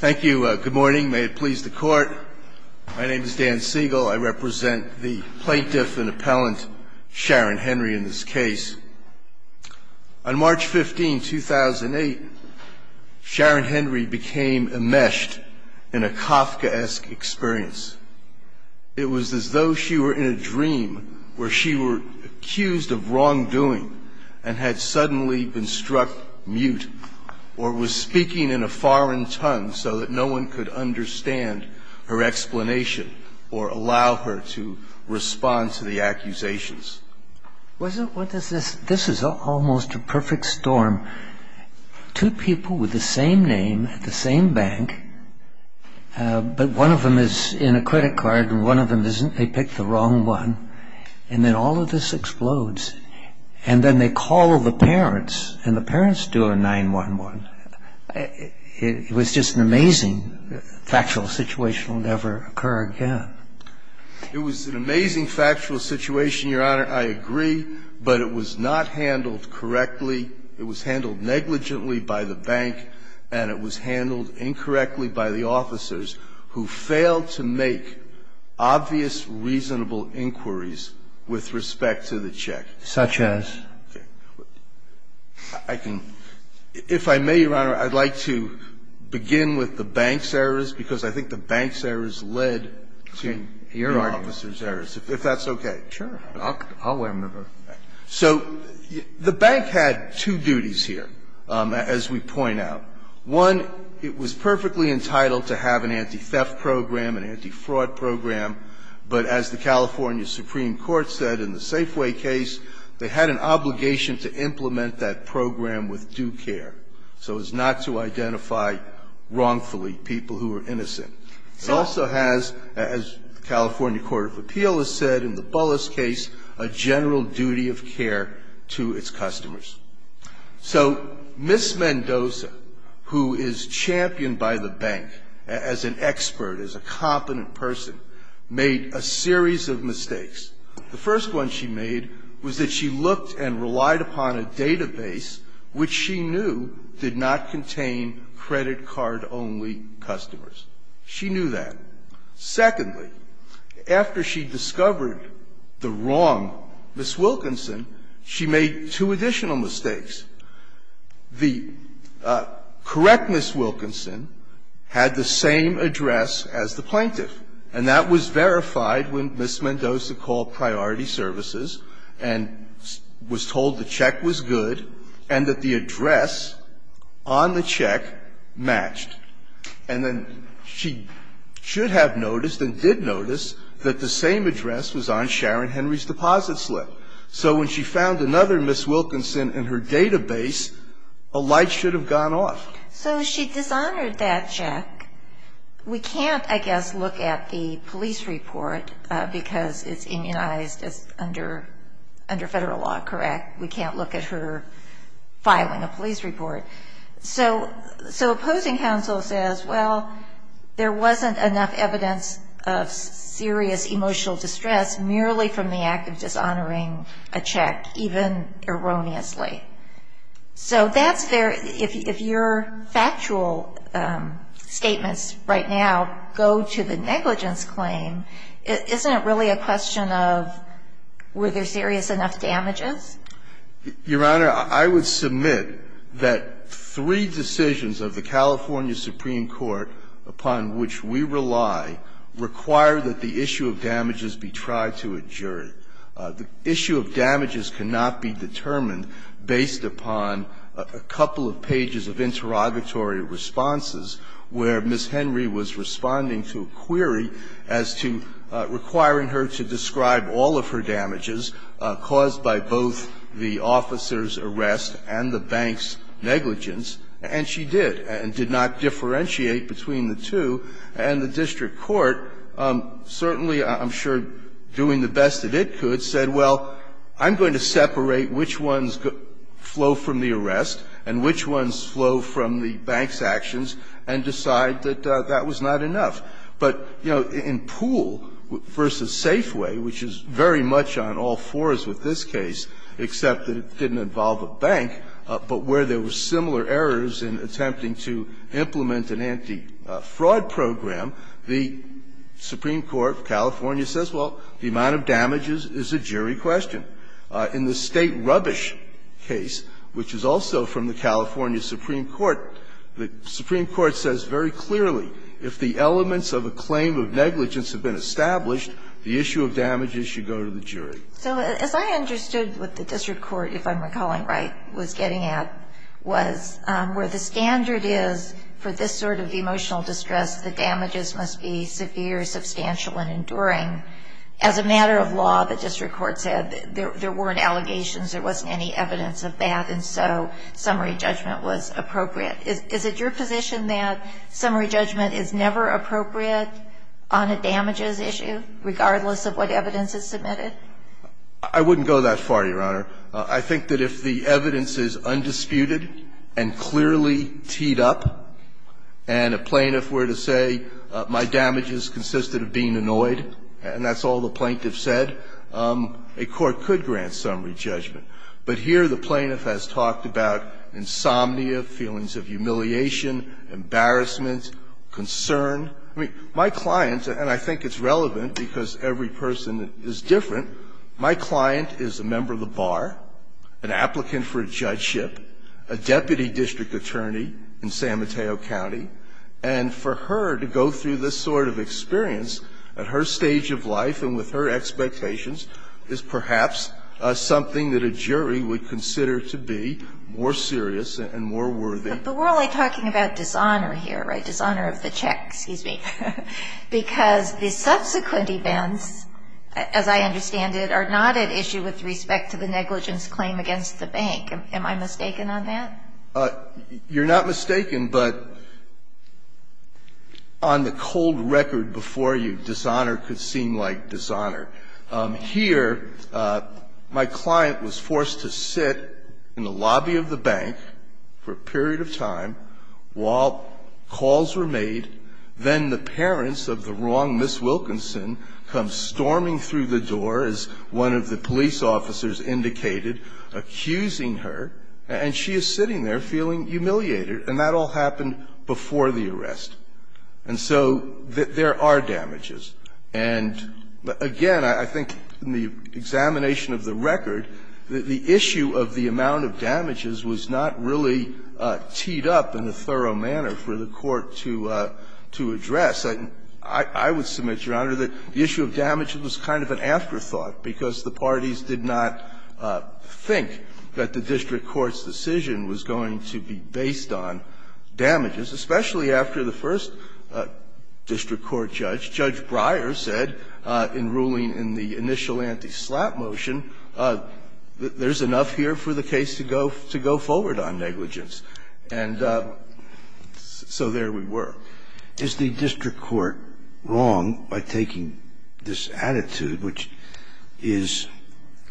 Thank you. Good morning. May it please the court. My name is Dan Siegel. I represent the plaintiff and appellant Sharon Henry in this case. On March 15, 2008, Sharon Henry became enmeshed in a Kafkaesque experience. It was as though she were in a dream where she were accused of wrongdoing and had suddenly been struck mute or was speaking in a foreign tongue so that no one could understand her explanation or allow her to respond to the accusations. This is almost a perfect storm. Two people with the same name at the same bank, but one of them is in a credit card and one of them isn't. They pick the wrong one, and then all It was just an amazing factual situation, and it will never occur again. It was an amazing factual situation, Your Honor. I agree, but it was not handled correctly. It was handled negligently by the bank, and it was handled incorrectly by the officers who failed to make obvious, reasonable inquiries with respect to the check. Such as? I can – if I may, Your Honor, I'd like to begin with the bank's errors, because I think the bank's errors led to your officer's errors, if that's okay. Sure. I'll remember. So the bank had two duties here, as we point out. One, it was perfectly entitled to have an anti-theft program, an anti-fraud program, but as the California Supreme Court said in the Safeway case, they had an obligation to implement that program with due care, so as not to identify wrongfully people who were innocent. It also has, as the California Court of Appeal has said in the Bullis case, a general duty of care to its customers. So Ms. Mendoza, who is championed by the bank as an expert, as a competent person, made a series of mistakes. The first one she made was that she looked and relied upon a database which she knew did not contain credit card-only customers. She knew that. Secondly, after she discovered the wrong Ms. Wilkinson, she made two additional mistakes. The correct Ms. Wilkinson had the same address as the plaintiff, and that was verified when Ms. Mendoza called Priority Services and was told the check was good and that the address on the check matched. And then she should have noticed and did notice that the same address was on Sharon Henry's deposit slip. So when she found another Ms. Wilkinson in her database, a light should have gone off. So she dishonored that check. We can't, I guess, look at the police report because it's immunized under federal law, correct? We can't look at her filing a police report. So opposing counsel says, well, there wasn't enough evidence of serious emotional distress merely from the act of dishonoring a check, even erroneously. So that's very – if your factual statements right now go to the negligence claim, isn't it really a question of were there serious enough damages? Your Honor, I would submit that three decisions of the California Supreme Court upon which we rely require that the issue of damages be tried to a jury. The issue of damages cannot be determined based upon a couple of pages of interrogatory responses where Ms. Henry was responding to a query as to requiring her to describe all of her damages caused by both the officer's arrest and the bank's negligence. And she did, and did not differentiate between the two. And the district court, certainly, I'm sure, doing the best that it could, said, well, I'm going to separate which ones flow from the arrest and which ones flow from the bank's actions and decide that that was not enough. But, you know, in Poole v. Safeway, which is very much on all fours with this case, except that it didn't involve a bank, but where there were similar errors in attempting to implement an anti-fraud program, the Supreme Court of California says, well, the amount of damages is a jury question. In the State Rubbish case, which is also from the California Supreme Court, the Supreme Court says very clearly if the elements of a claim of negligence have been established, the issue of damages should go to the jury. So as I understood what the district court, if I'm recalling right, was getting at was where the standard is for this sort of emotional distress, the damages must be severe, substantial, and enduring. As a matter of law, the district court said there weren't allegations, there wasn't any evidence of that, and so summary judgment was appropriate. Is it your position that summary judgment is never appropriate on a damages issue, regardless of what evidence is submitted? I wouldn't go that far, Your Honor. I think that if the evidence is undisputed and clearly teed up, and a plaintiff were to say my damages consisted of being annoyed, and that's all the plaintiff said, a court could grant summary judgment. But here the plaintiff has talked about insomnia, feelings of humiliation, embarrassment, concern. I mean, my client, and I think it's relevant because every person is different, my client is a member of the bar, an applicant for a judgeship, a deputy district attorney in San Mateo County, and for her to go through this sort of experience at her stage of life and with her expectations is perhaps something that a jury would consider to be more serious and more worthy. But we're only talking about dishonor here, right, dishonor of the checks. Excuse me. Because the subsequent events, as I understand it, are not at issue with respect to the negligence claim against the bank. Am I mistaken on that? You're not mistaken, but on the cold record before you, dishonor could seem like dishonor. Here, my client was forced to sit in the lobby of the bank for a period of time while calls were made. Then the parents of the wrong Ms. Wilkinson come storming through the door, as one of the police officers indicated, accusing her, and she is sitting there feeling humiliated. And that all happened before the arrest. And so there are damages. And again, I think in the examination of the record, the issue of the amount of damages was not really teed up in a thorough manner for the Court to address. I would submit, Your Honor, that the issue of damage was kind of an afterthought, because the parties did not think that the district court's decision was going to be based on damages, especially after the first district court judge, Judge Breyer, said in ruling in the initial anti-slap motion, there's enough here for the case to go forward on negligence. And so there we were. Scalia. Is the district court wrong by taking this attitude, which is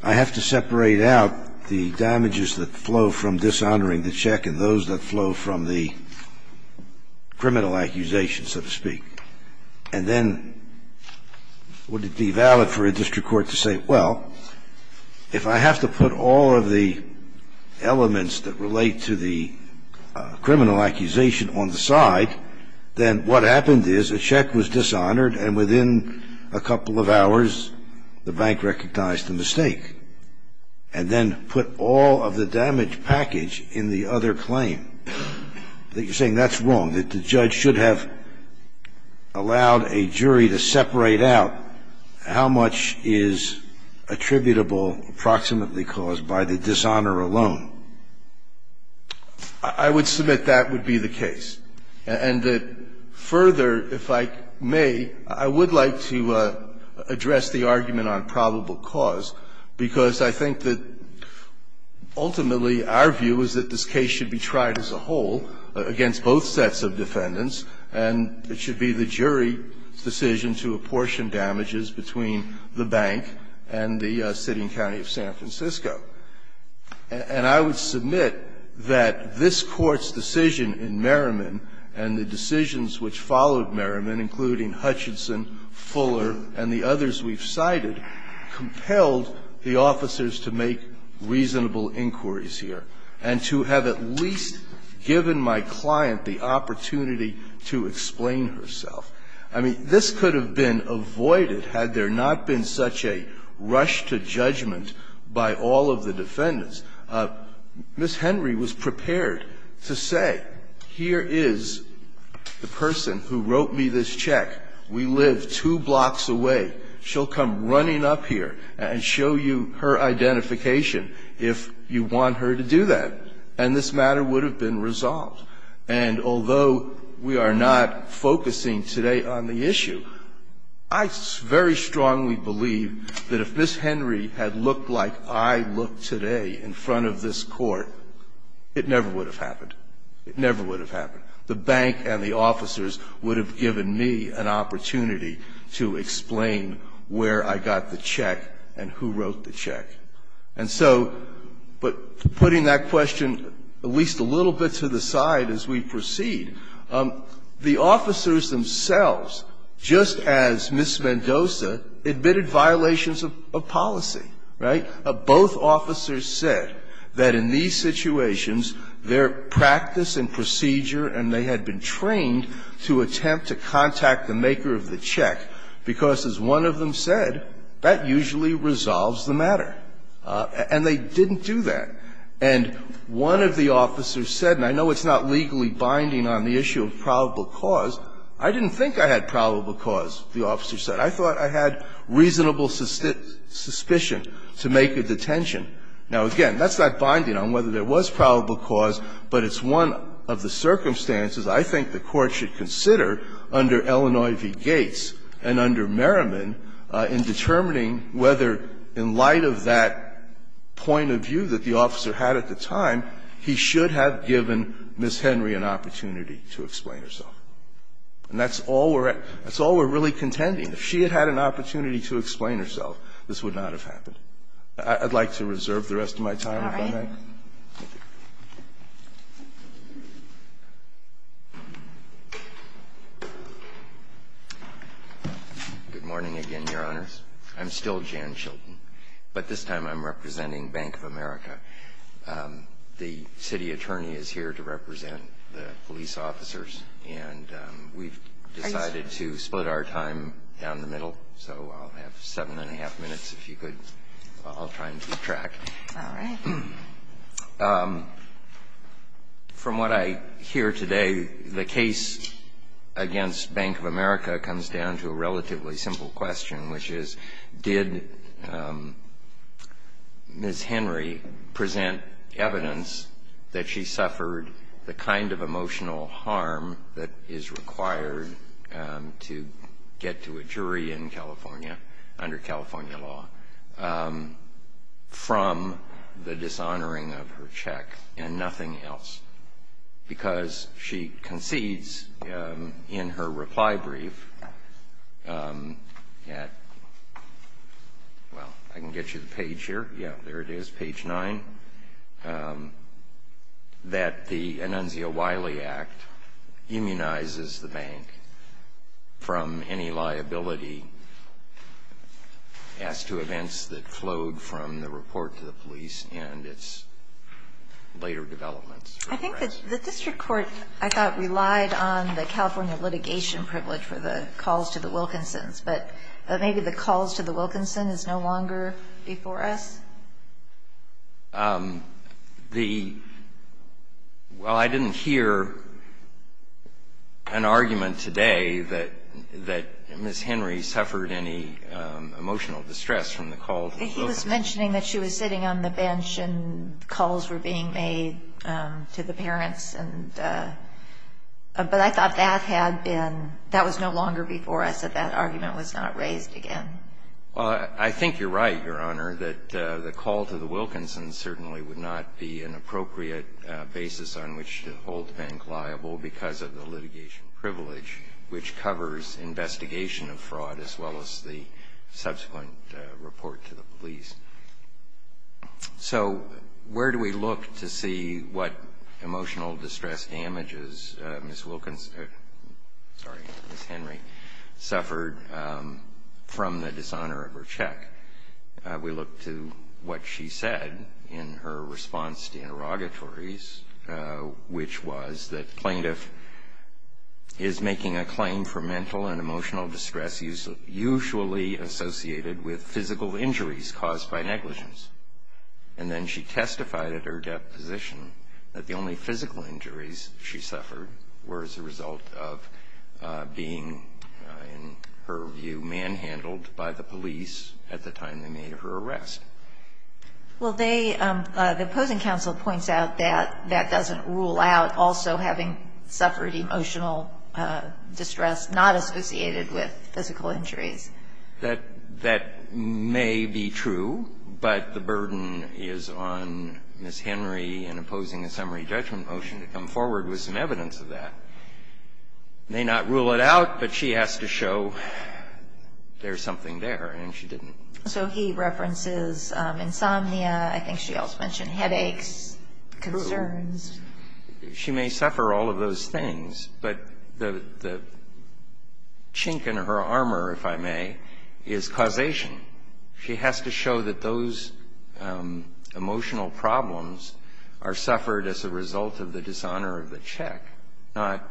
I have to separate out the damages that flow from dishonoring the check and those that flow from the criminal accusation, so to speak, and then would it be valid for a district court to say, well, if I have to put all of the elements that relate to the criminal accusation on the side, then what happened is a check was dishonored, and within a couple of hours, the bank recognized the mistake, and then put all of the damage package in the other claim. I think you're saying that's wrong, that the judge should have allowed a jury to make a case attributable approximately caused by the dishonor alone. I would submit that would be the case, and that further, if I may, I would like to address the argument on probable cause, because I think that ultimately our view is that this case should be tried as a whole against both sets of defendants, and it should be the jury's decision to apportion damages between the bank and the city and county of San Francisco. And I would submit that this Court's decision in Merriman and the decisions which followed Merriman, including Hutchinson, Fuller, and the others we've cited, compelled the officers to make reasonable inquiries here and to have at least given my client the opportunity to explain herself. I mean, this could have been avoided had there not been such a rush to judgment by all of the defendants. Ms. Henry was prepared to say, here is the person who wrote me this check. We live two blocks away. She'll come running up here and show you her identification if you want her to do that. And this matter would have been resolved. And although we are not focusing today on the issue, I very strongly believe that if Ms. Henry had looked like I look today in front of this Court, it never would have happened. It never would have happened. The bank and the officers would have given me an opportunity to explain where I got the check and who wrote the check. And so, but putting that question at least a little bit to the side as we proceed, the officers themselves, just as Ms. Mendoza, admitted violations of policy, right? Both officers said that in these situations, their practice and procedure and they had been trained to attempt to contact the maker of the check, because as one of them said, that usually resolves the matter. And they didn't do that. And one of the officers said, and I know it's not legally binding on the issue of probable cause. I didn't think I had probable cause, the officer said. I thought I had reasonable suspicion to make a detention. Now, again, that's not binding on whether there was probable cause, but it's one of the circumstances I think the Court should consider under Illinois v. Gates and under Merriman in determining whether, in light of that point of view that the officer had at the time, he should have given Ms. Henry an opportunity to explain herself. And that's all we're really contending. If she had had an opportunity to explain herself, this would not have happened. I'd like to reserve the rest of my time if I may. Good morning again, Your Honor. I'm still Jan Chilton, but this time I'm representing Bank of America. The city attorney is here to represent the police officers, and we've decided to split our time down the middle, so I'll have 7 1⁄2 minutes if you could. I'll try and keep track. All right. From what I hear today, the case against Bank of America comes down to a relatively simple question, which is did Ms. Henry present evidence that she suffered the kind of emotional harm that is required to get to a jury in California under California law from the dishonoring of her check and nothing else? Because she concedes in her reply brief at, well, I can get you the page here. Yeah, there it is, page 9, that the Anunzio-Wiley Act immunizes the bank from any liability as to events that flowed from the report to the police and its later developments. I think that the district court, I thought, relied on the California litigation privilege for the calls to the Wilkinsons, but maybe the calls to the Wilkinson is no longer before us? Well, I didn't hear an argument today that Ms. Henry suffered any emotional distress from the call to the Wilkinsons. He was mentioning that she was sitting on the bench and calls were being made to the parents, but I thought that was no longer before us, that that argument was not raised again. Well, I think you're right, Your Honor, that the call to the Wilkinsons certainly would not be an appropriate basis on which to hold the bank liable because of the litigation privilege, which covers investigation of fraud as well as the subsequent report to the police. So where do we look to see what emotional distress damages Ms. Wilkinson or Ms. Henry suffered from the dishonor of her check? We look to what she said in her response to interrogatories, which was that plaintiff is making a claim for mental and emotional distress usually associated with physical injuries caused by negligence. And then she testified at her deposition that the only physical injuries she suffered were as a result of being, in her view, manhandled by the police at the time they made her arrest. Well, they – the opposing counsel points out that that doesn't rule out also having suffered emotional distress not associated with physical injuries. That may be true, but the burden is on Ms. Henry in opposing a summary judgment motion to come forward with some evidence of that. It may not rule it out, but she has to show there's something there, and she didn't. So he references insomnia, I think she also mentioned headaches, concerns. She may suffer all of those things, but the chink in her armor, if I may, is causation. She has to show that those emotional problems are suffered as a result of the dishonor of the check, not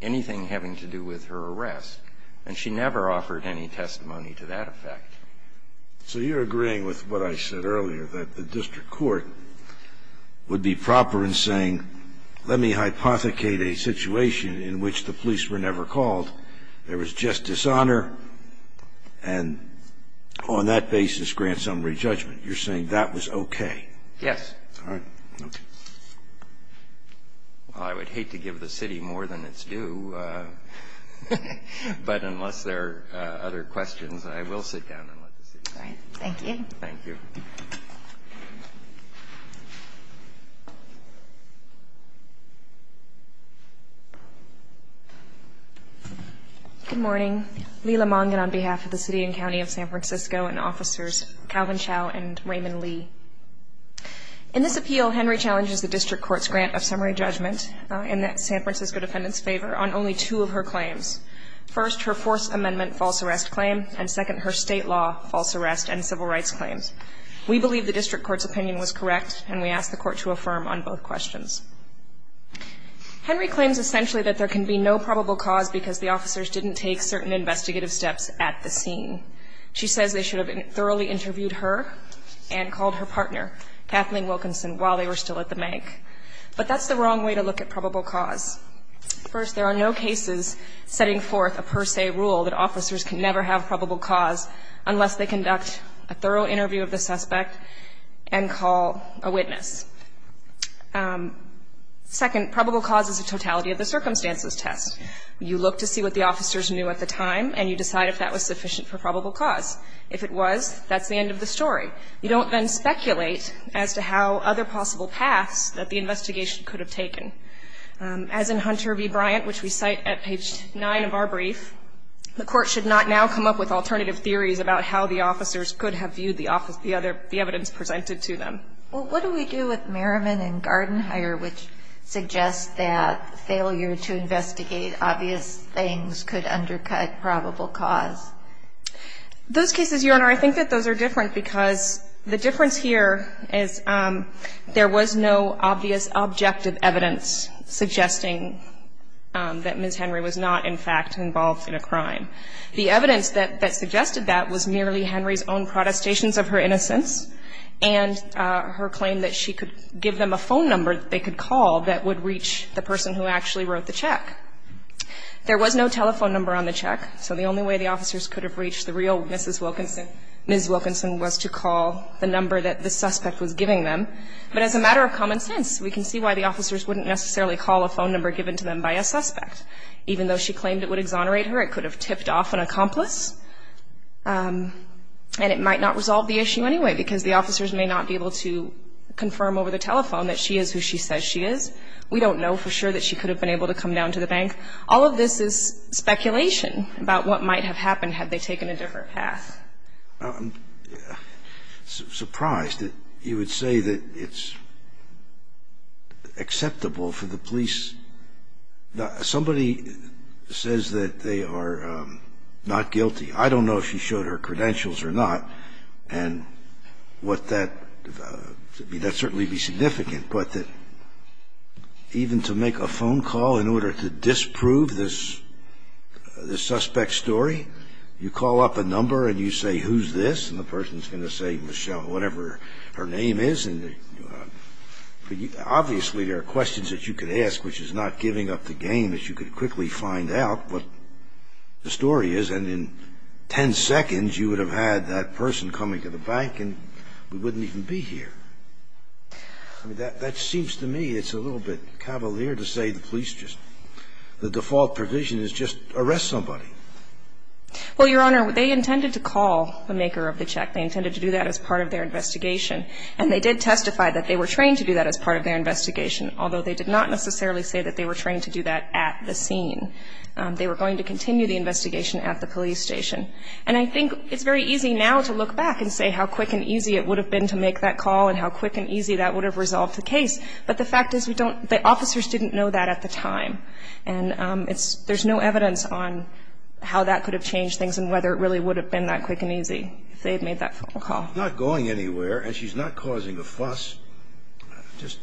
anything having to do with her arrest. And she never offered any testimony to that effect. So you're agreeing with what I said earlier, that the district court would be proper in saying, let me hypothecate a situation in which the police were never called. There was just dishonor, and on that basis grant summary judgment. You're saying that was okay? Yes. All right. Okay. Well, I would hate to give the city more than it's due, but unless there are other questions, I will sit down and let the city decide. All right. Thank you. Thank you. Good morning. Leela Mongin on behalf of the city and county of San Francisco and officers Calvin Chow and Raymond Lee. In this appeal, Henry challenges the district court's grant of summary judgment in the San Francisco defendant's favor on only two of her claims. First, her Fourth Amendment false arrest claim, and second, her state law false arrest and civil rights claims. We believe the district court's opinion was correct, and we ask the court to affirm on both questions. Henry claims essentially that there can be no probable cause because the officers didn't take certain investigative steps at the scene. She says they should have thoroughly interviewed her and called her partner, Kathleen Wilkinson, while they were still at the bank. But that's the wrong way to look at probable cause. First, there are no cases setting forth a per se rule that officers can never have probable cause unless they conduct a thorough interview of the suspect and call a witness. Second, probable cause is a totality of the circumstances test. You look to see what the officers knew at the time, and you decide if that was sufficient for probable cause. If it was, that's the end of the story. You don't then speculate as to how other possible paths that the investigation could have taken. As in Hunter v. Bryant, which we cite at page 9 of our brief, the court should not now come up with alternative theories about how the officers could have viewed the other the evidence presented to them. Well, what do we do with Merriman and Gardenhire, which suggests that failure to investigate obvious things could undercut probable cause? Those cases, Your Honor, I think that those are different because the difference here is there was no obvious objective evidence suggesting that Ms. Henry was not, in fact, involved in a crime. The evidence that suggested that was merely Henry's own protestations of her innocence and her claim that she could give them a phone number that they could call that would reach the person who actually wrote the check. There was no telephone number on the check, so the only way the officers could have reached the real Ms. Wilkinson was to call the number that the suspect was giving them. But as a matter of common sense, we can see why the officers wouldn't necessarily call a phone number given to them by a suspect. Even though she claimed it would exonerate her, it could have tipped off an accomplice and it might not resolve the issue anyway because the officers may not be able to confirm over the telephone that she is who she says she is. We don't know for sure that she could have been able to come down to the bank. All of this is speculation about what might have happened had they taken a different path. I'm surprised that you would say that it's acceptable for the police. Somebody says that they are not guilty. I don't know if she showed her credentials or not and that would certainly be significant. But even to make a phone call in order to disprove this suspect's story, you call up a number and you say, who's this? And the person's going to say, Michelle, whatever her name is. Obviously, there are questions that you could ask, which is not giving up the game, that you could quickly find out what the story is. And in ten seconds, you would have had that person coming to the bank and we wouldn't even be here. I mean, that seems to me it's a little bit cavalier to say the police just the default provision is just arrest somebody. Well, Your Honor, they intended to call the maker of the check. They intended to do that as part of their investigation. And they did testify that they were trained to do that as part of their investigation, although they did not necessarily say that they were trained to do that at the scene. They were going to continue the investigation at the police station. And I think it's very easy now to look back and say how quick and easy it would have been to make that call and how quick and easy that would have resolved the case. But the fact is we don't the officers didn't know that at the time. And it's there's no evidence on how that could have changed things and whether it really would have been that quick and easy if they had made that phone call. Scalia's not going anywhere, and she's not causing a fuss. Just,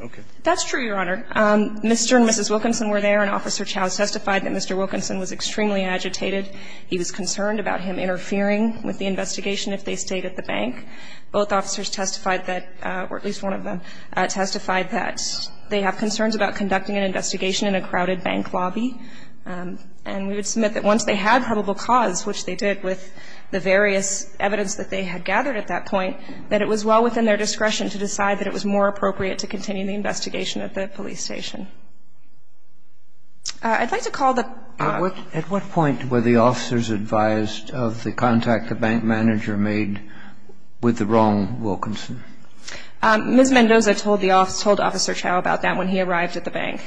okay. That's true, Your Honor. Mr. and Mrs. Wilkinson were there, and Officer Chow testified that Mr. Wilkinson was extremely agitated. He was concerned about him interfering with the investigation if they stayed at the bank. Both officers testified that, or at least one of them testified that they have concerns about conducting an investigation in a crowded bank lobby. And we would submit that once they had probable cause, which they did with the various evidence that they had gathered at that point, that it was well within their discretion to decide that it was more appropriate to continue the investigation at the police station. I'd like to call the ---- At what point were the officers advised of the contact the bank manager made with the wrong Wilkinson? Ms. Mendoza told the officer, told Officer Chow about that when he arrived at the bank.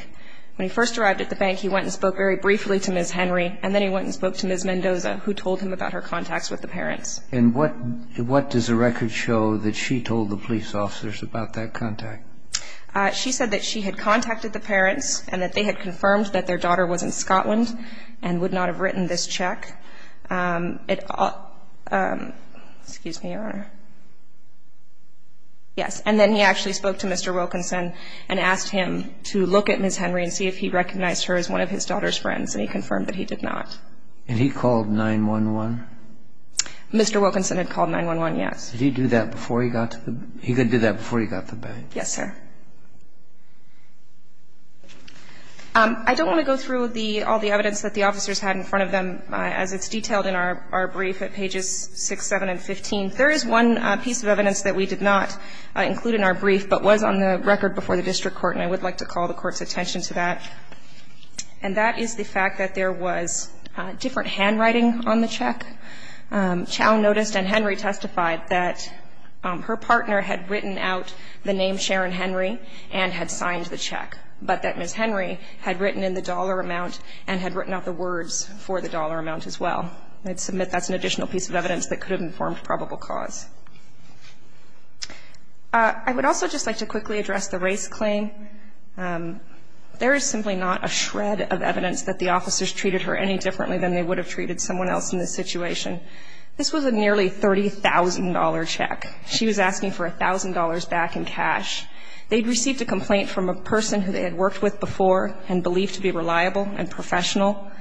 When he first arrived at the bank, he went and spoke very briefly to Ms. Henry, and then he went and spoke to Ms. Mendoza, who told him about her contacts with the parents. And what does the record show that she told the police officers about that contact? She said that she had contacted the parents and that they had confirmed that their daughter was in Scotland and would not have written this check. Excuse me, Your Honor. Yes. And then he actually spoke to Mr. Wilkinson and asked him to look at Ms. Henry and see if he recognized her as one of his daughter's friends, and he confirmed that he did not. And he called 911? Mr. Wilkinson had called 911, yes. Did he do that before he got to the ---- He did that before he got to the bank? Yes, sir. I don't want to go through the ---- all the evidence that the officers had in front of them, as it's detailed in our brief at pages 6, 7, and 15. There is one piece of evidence that we did not include in our brief but was on the record before the district court, and I would like to call the court's attention to that. And that is the fact that there was different handwriting on the check. Chau noticed, and Henry testified, that her partner had written out the name Sharon Henry and had signed the check, but that Ms. Henry had written in the dollar amount and had written out the words for the dollar amount as well. I'd submit that's an additional piece of evidence that could have informed probable cause. I would also just like to quickly address the race claim. There is simply not a shred of evidence that the officers treated her any differently than they would have treated someone else in this situation. This was a nearly $30,000 check. She was asking for $1,000 back in cash. They'd received a complaint from a person who they had worked with before and believed to be reliable and professional.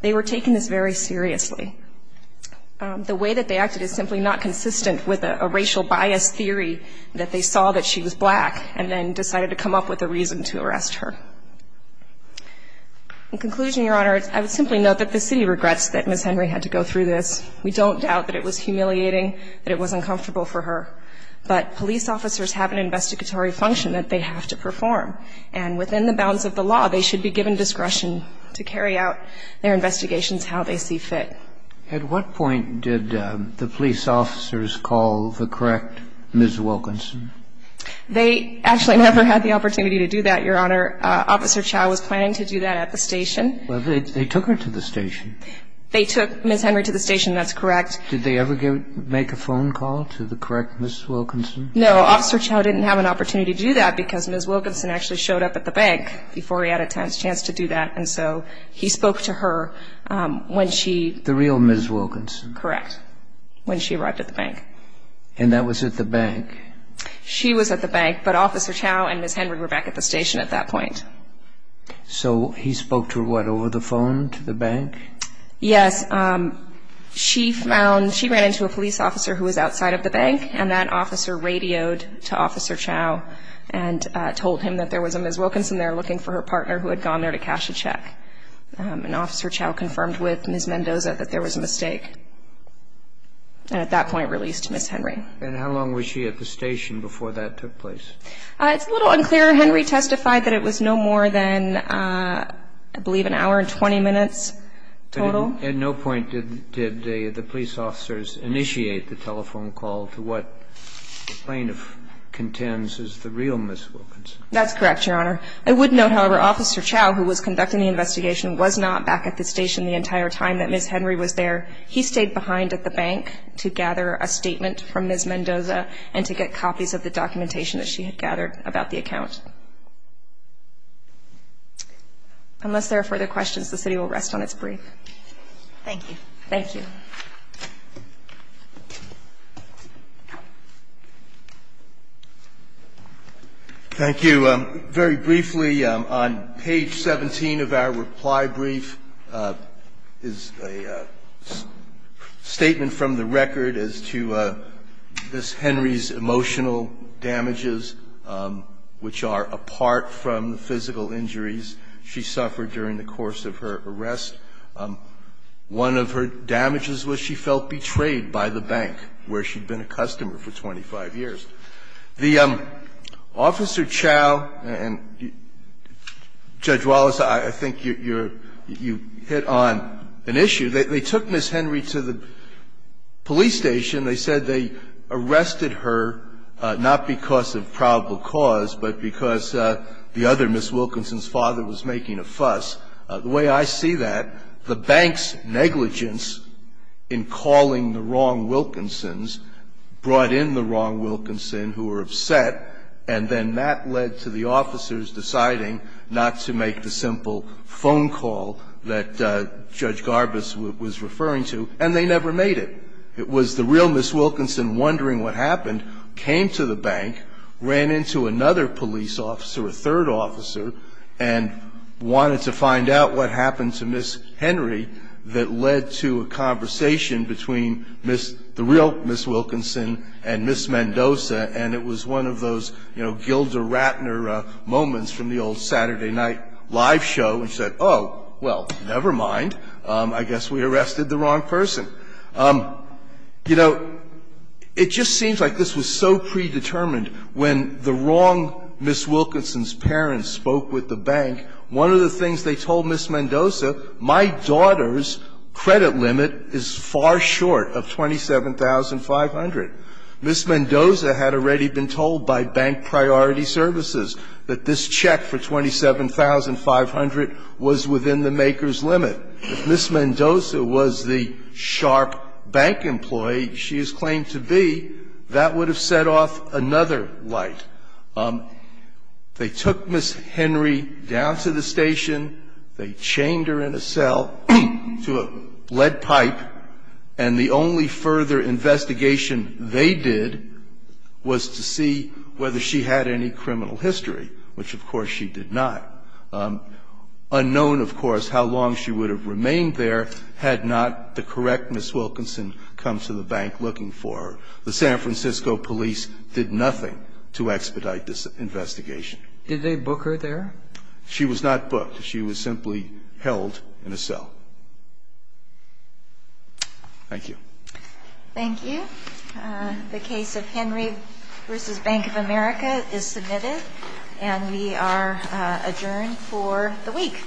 They were taking this very seriously. The way that they acted is simply not consistent with a racial bias theory that they saw that she was black and then decided to come up with a reason to arrest her. In conclusion, Your Honor, I would simply note that the city regrets that Ms. Henry had to go through this. We don't doubt that it was humiliating, that it was uncomfortable for her. But police officers have an investigatory function that they have to perform. And within the bounds of the law, they should be given discretion to carry out their investigations how they see fit. At what point did the police officers call the correct Ms. Wilkinson? They actually never had the opportunity to do that, Your Honor. Officer Chau was planning to do that at the station. But they took her to the station. They took Ms. Henry to the station. That's correct. Did they ever make a phone call to the correct Ms. Wilkinson? No. Officer Chau didn't have an opportunity to do that because Ms. Wilkinson actually showed up at the bank before he had a chance to do that. And so he spoke to her when she – The real Ms. Wilkinson. Correct. When she arrived at the bank. And that was at the bank. She was at the bank. But Officer Chau and Ms. Henry were back at the station at that point. So he spoke to her, what, over the phone to the bank? Yes. She found – she ran into a police officer who was outside of the bank. And that officer radioed to Officer Chau and told him that there was a Ms. Wilkinson there looking for her partner who had gone there to cash a check. And Officer Chau confirmed with Ms. Mendoza that there was a mistake. And at that point released Ms. Henry. And how long was she at the station before that took place? It's a little unclear. Henry testified that it was no more than, I believe, an hour and 20 minutes total. At no point did the police officers initiate the telephone call to what plaintiff contends is the real Ms. Wilkinson. That's correct, Your Honor. I would note, however, Officer Chau, who was conducting the investigation, was not back at the station the entire time that Ms. Henry was there. He stayed behind at the bank to gather a statement from Ms. Mendoza and to get copies of the documentation that she had gathered about the account. Unless there are further questions, the city will rest on its brief. Thank you. Thank you. Thank you. Very briefly, on page 17 of our reply brief is a statement from the record as to Ms. Henry's emotional damages, which are apart from the physical injuries she suffered during the course of her arrest. One of her damages was she felt betrayed by the bank, where she'd been a customer for 25 years. The Officer Chau and Judge Wallace, I think you hit on an issue. They took Ms. Henry to the police station. They said they arrested her not because of probable cause, but because the other Ms. Wilkinson's father was making a fuss. The way I see that, the bank's negligence in calling the wrong Wilkinsons brought in the wrong Wilkinson who were upset, and then that led to the officers deciding not to make the simple phone call that Judge Garbus was referring to. And they never made it. It was the real Ms. Wilkinson wondering what happened, came to the bank, ran into another police officer, a third officer, and wanted to find out what happened to Ms. Henry that led to a conversation between the real Ms. Wilkinson and Ms. Mendoza. And it was one of those, you know, Gilder Rattner moments from the old Saturday night live show, which said, oh, well, never mind, I guess we arrested the wrong person. You know, it just seems like this was so predetermined when the wrong Ms. Wilkinson's parents spoke with the bank. One of the things they told Ms. Mendoza, my daughter's credit limit is far too high for her credit to be far short of $27,500. Ms. Mendoza had already been told by Bank Priority Services that this check for $27,500 was within the maker's limit. If Ms. Mendoza was the sharp bank employee she is claimed to be, that would have set off another light. They took Ms. Henry down to the station, they chained her in a cell to a lead pipe, and the only further investigation they did was to see whether she had any criminal history, which of course she did not. Unknown, of course, how long she would have remained there had not the correct Ms. Wilkinson come to the bank looking for her. The San Francisco police did nothing to expedite this investigation. Did they book her there? She was not booked. She was simply held in a cell. Thank you. Thank you. The case of Henry v. Bank of America is submitted and we are adjourned for the week.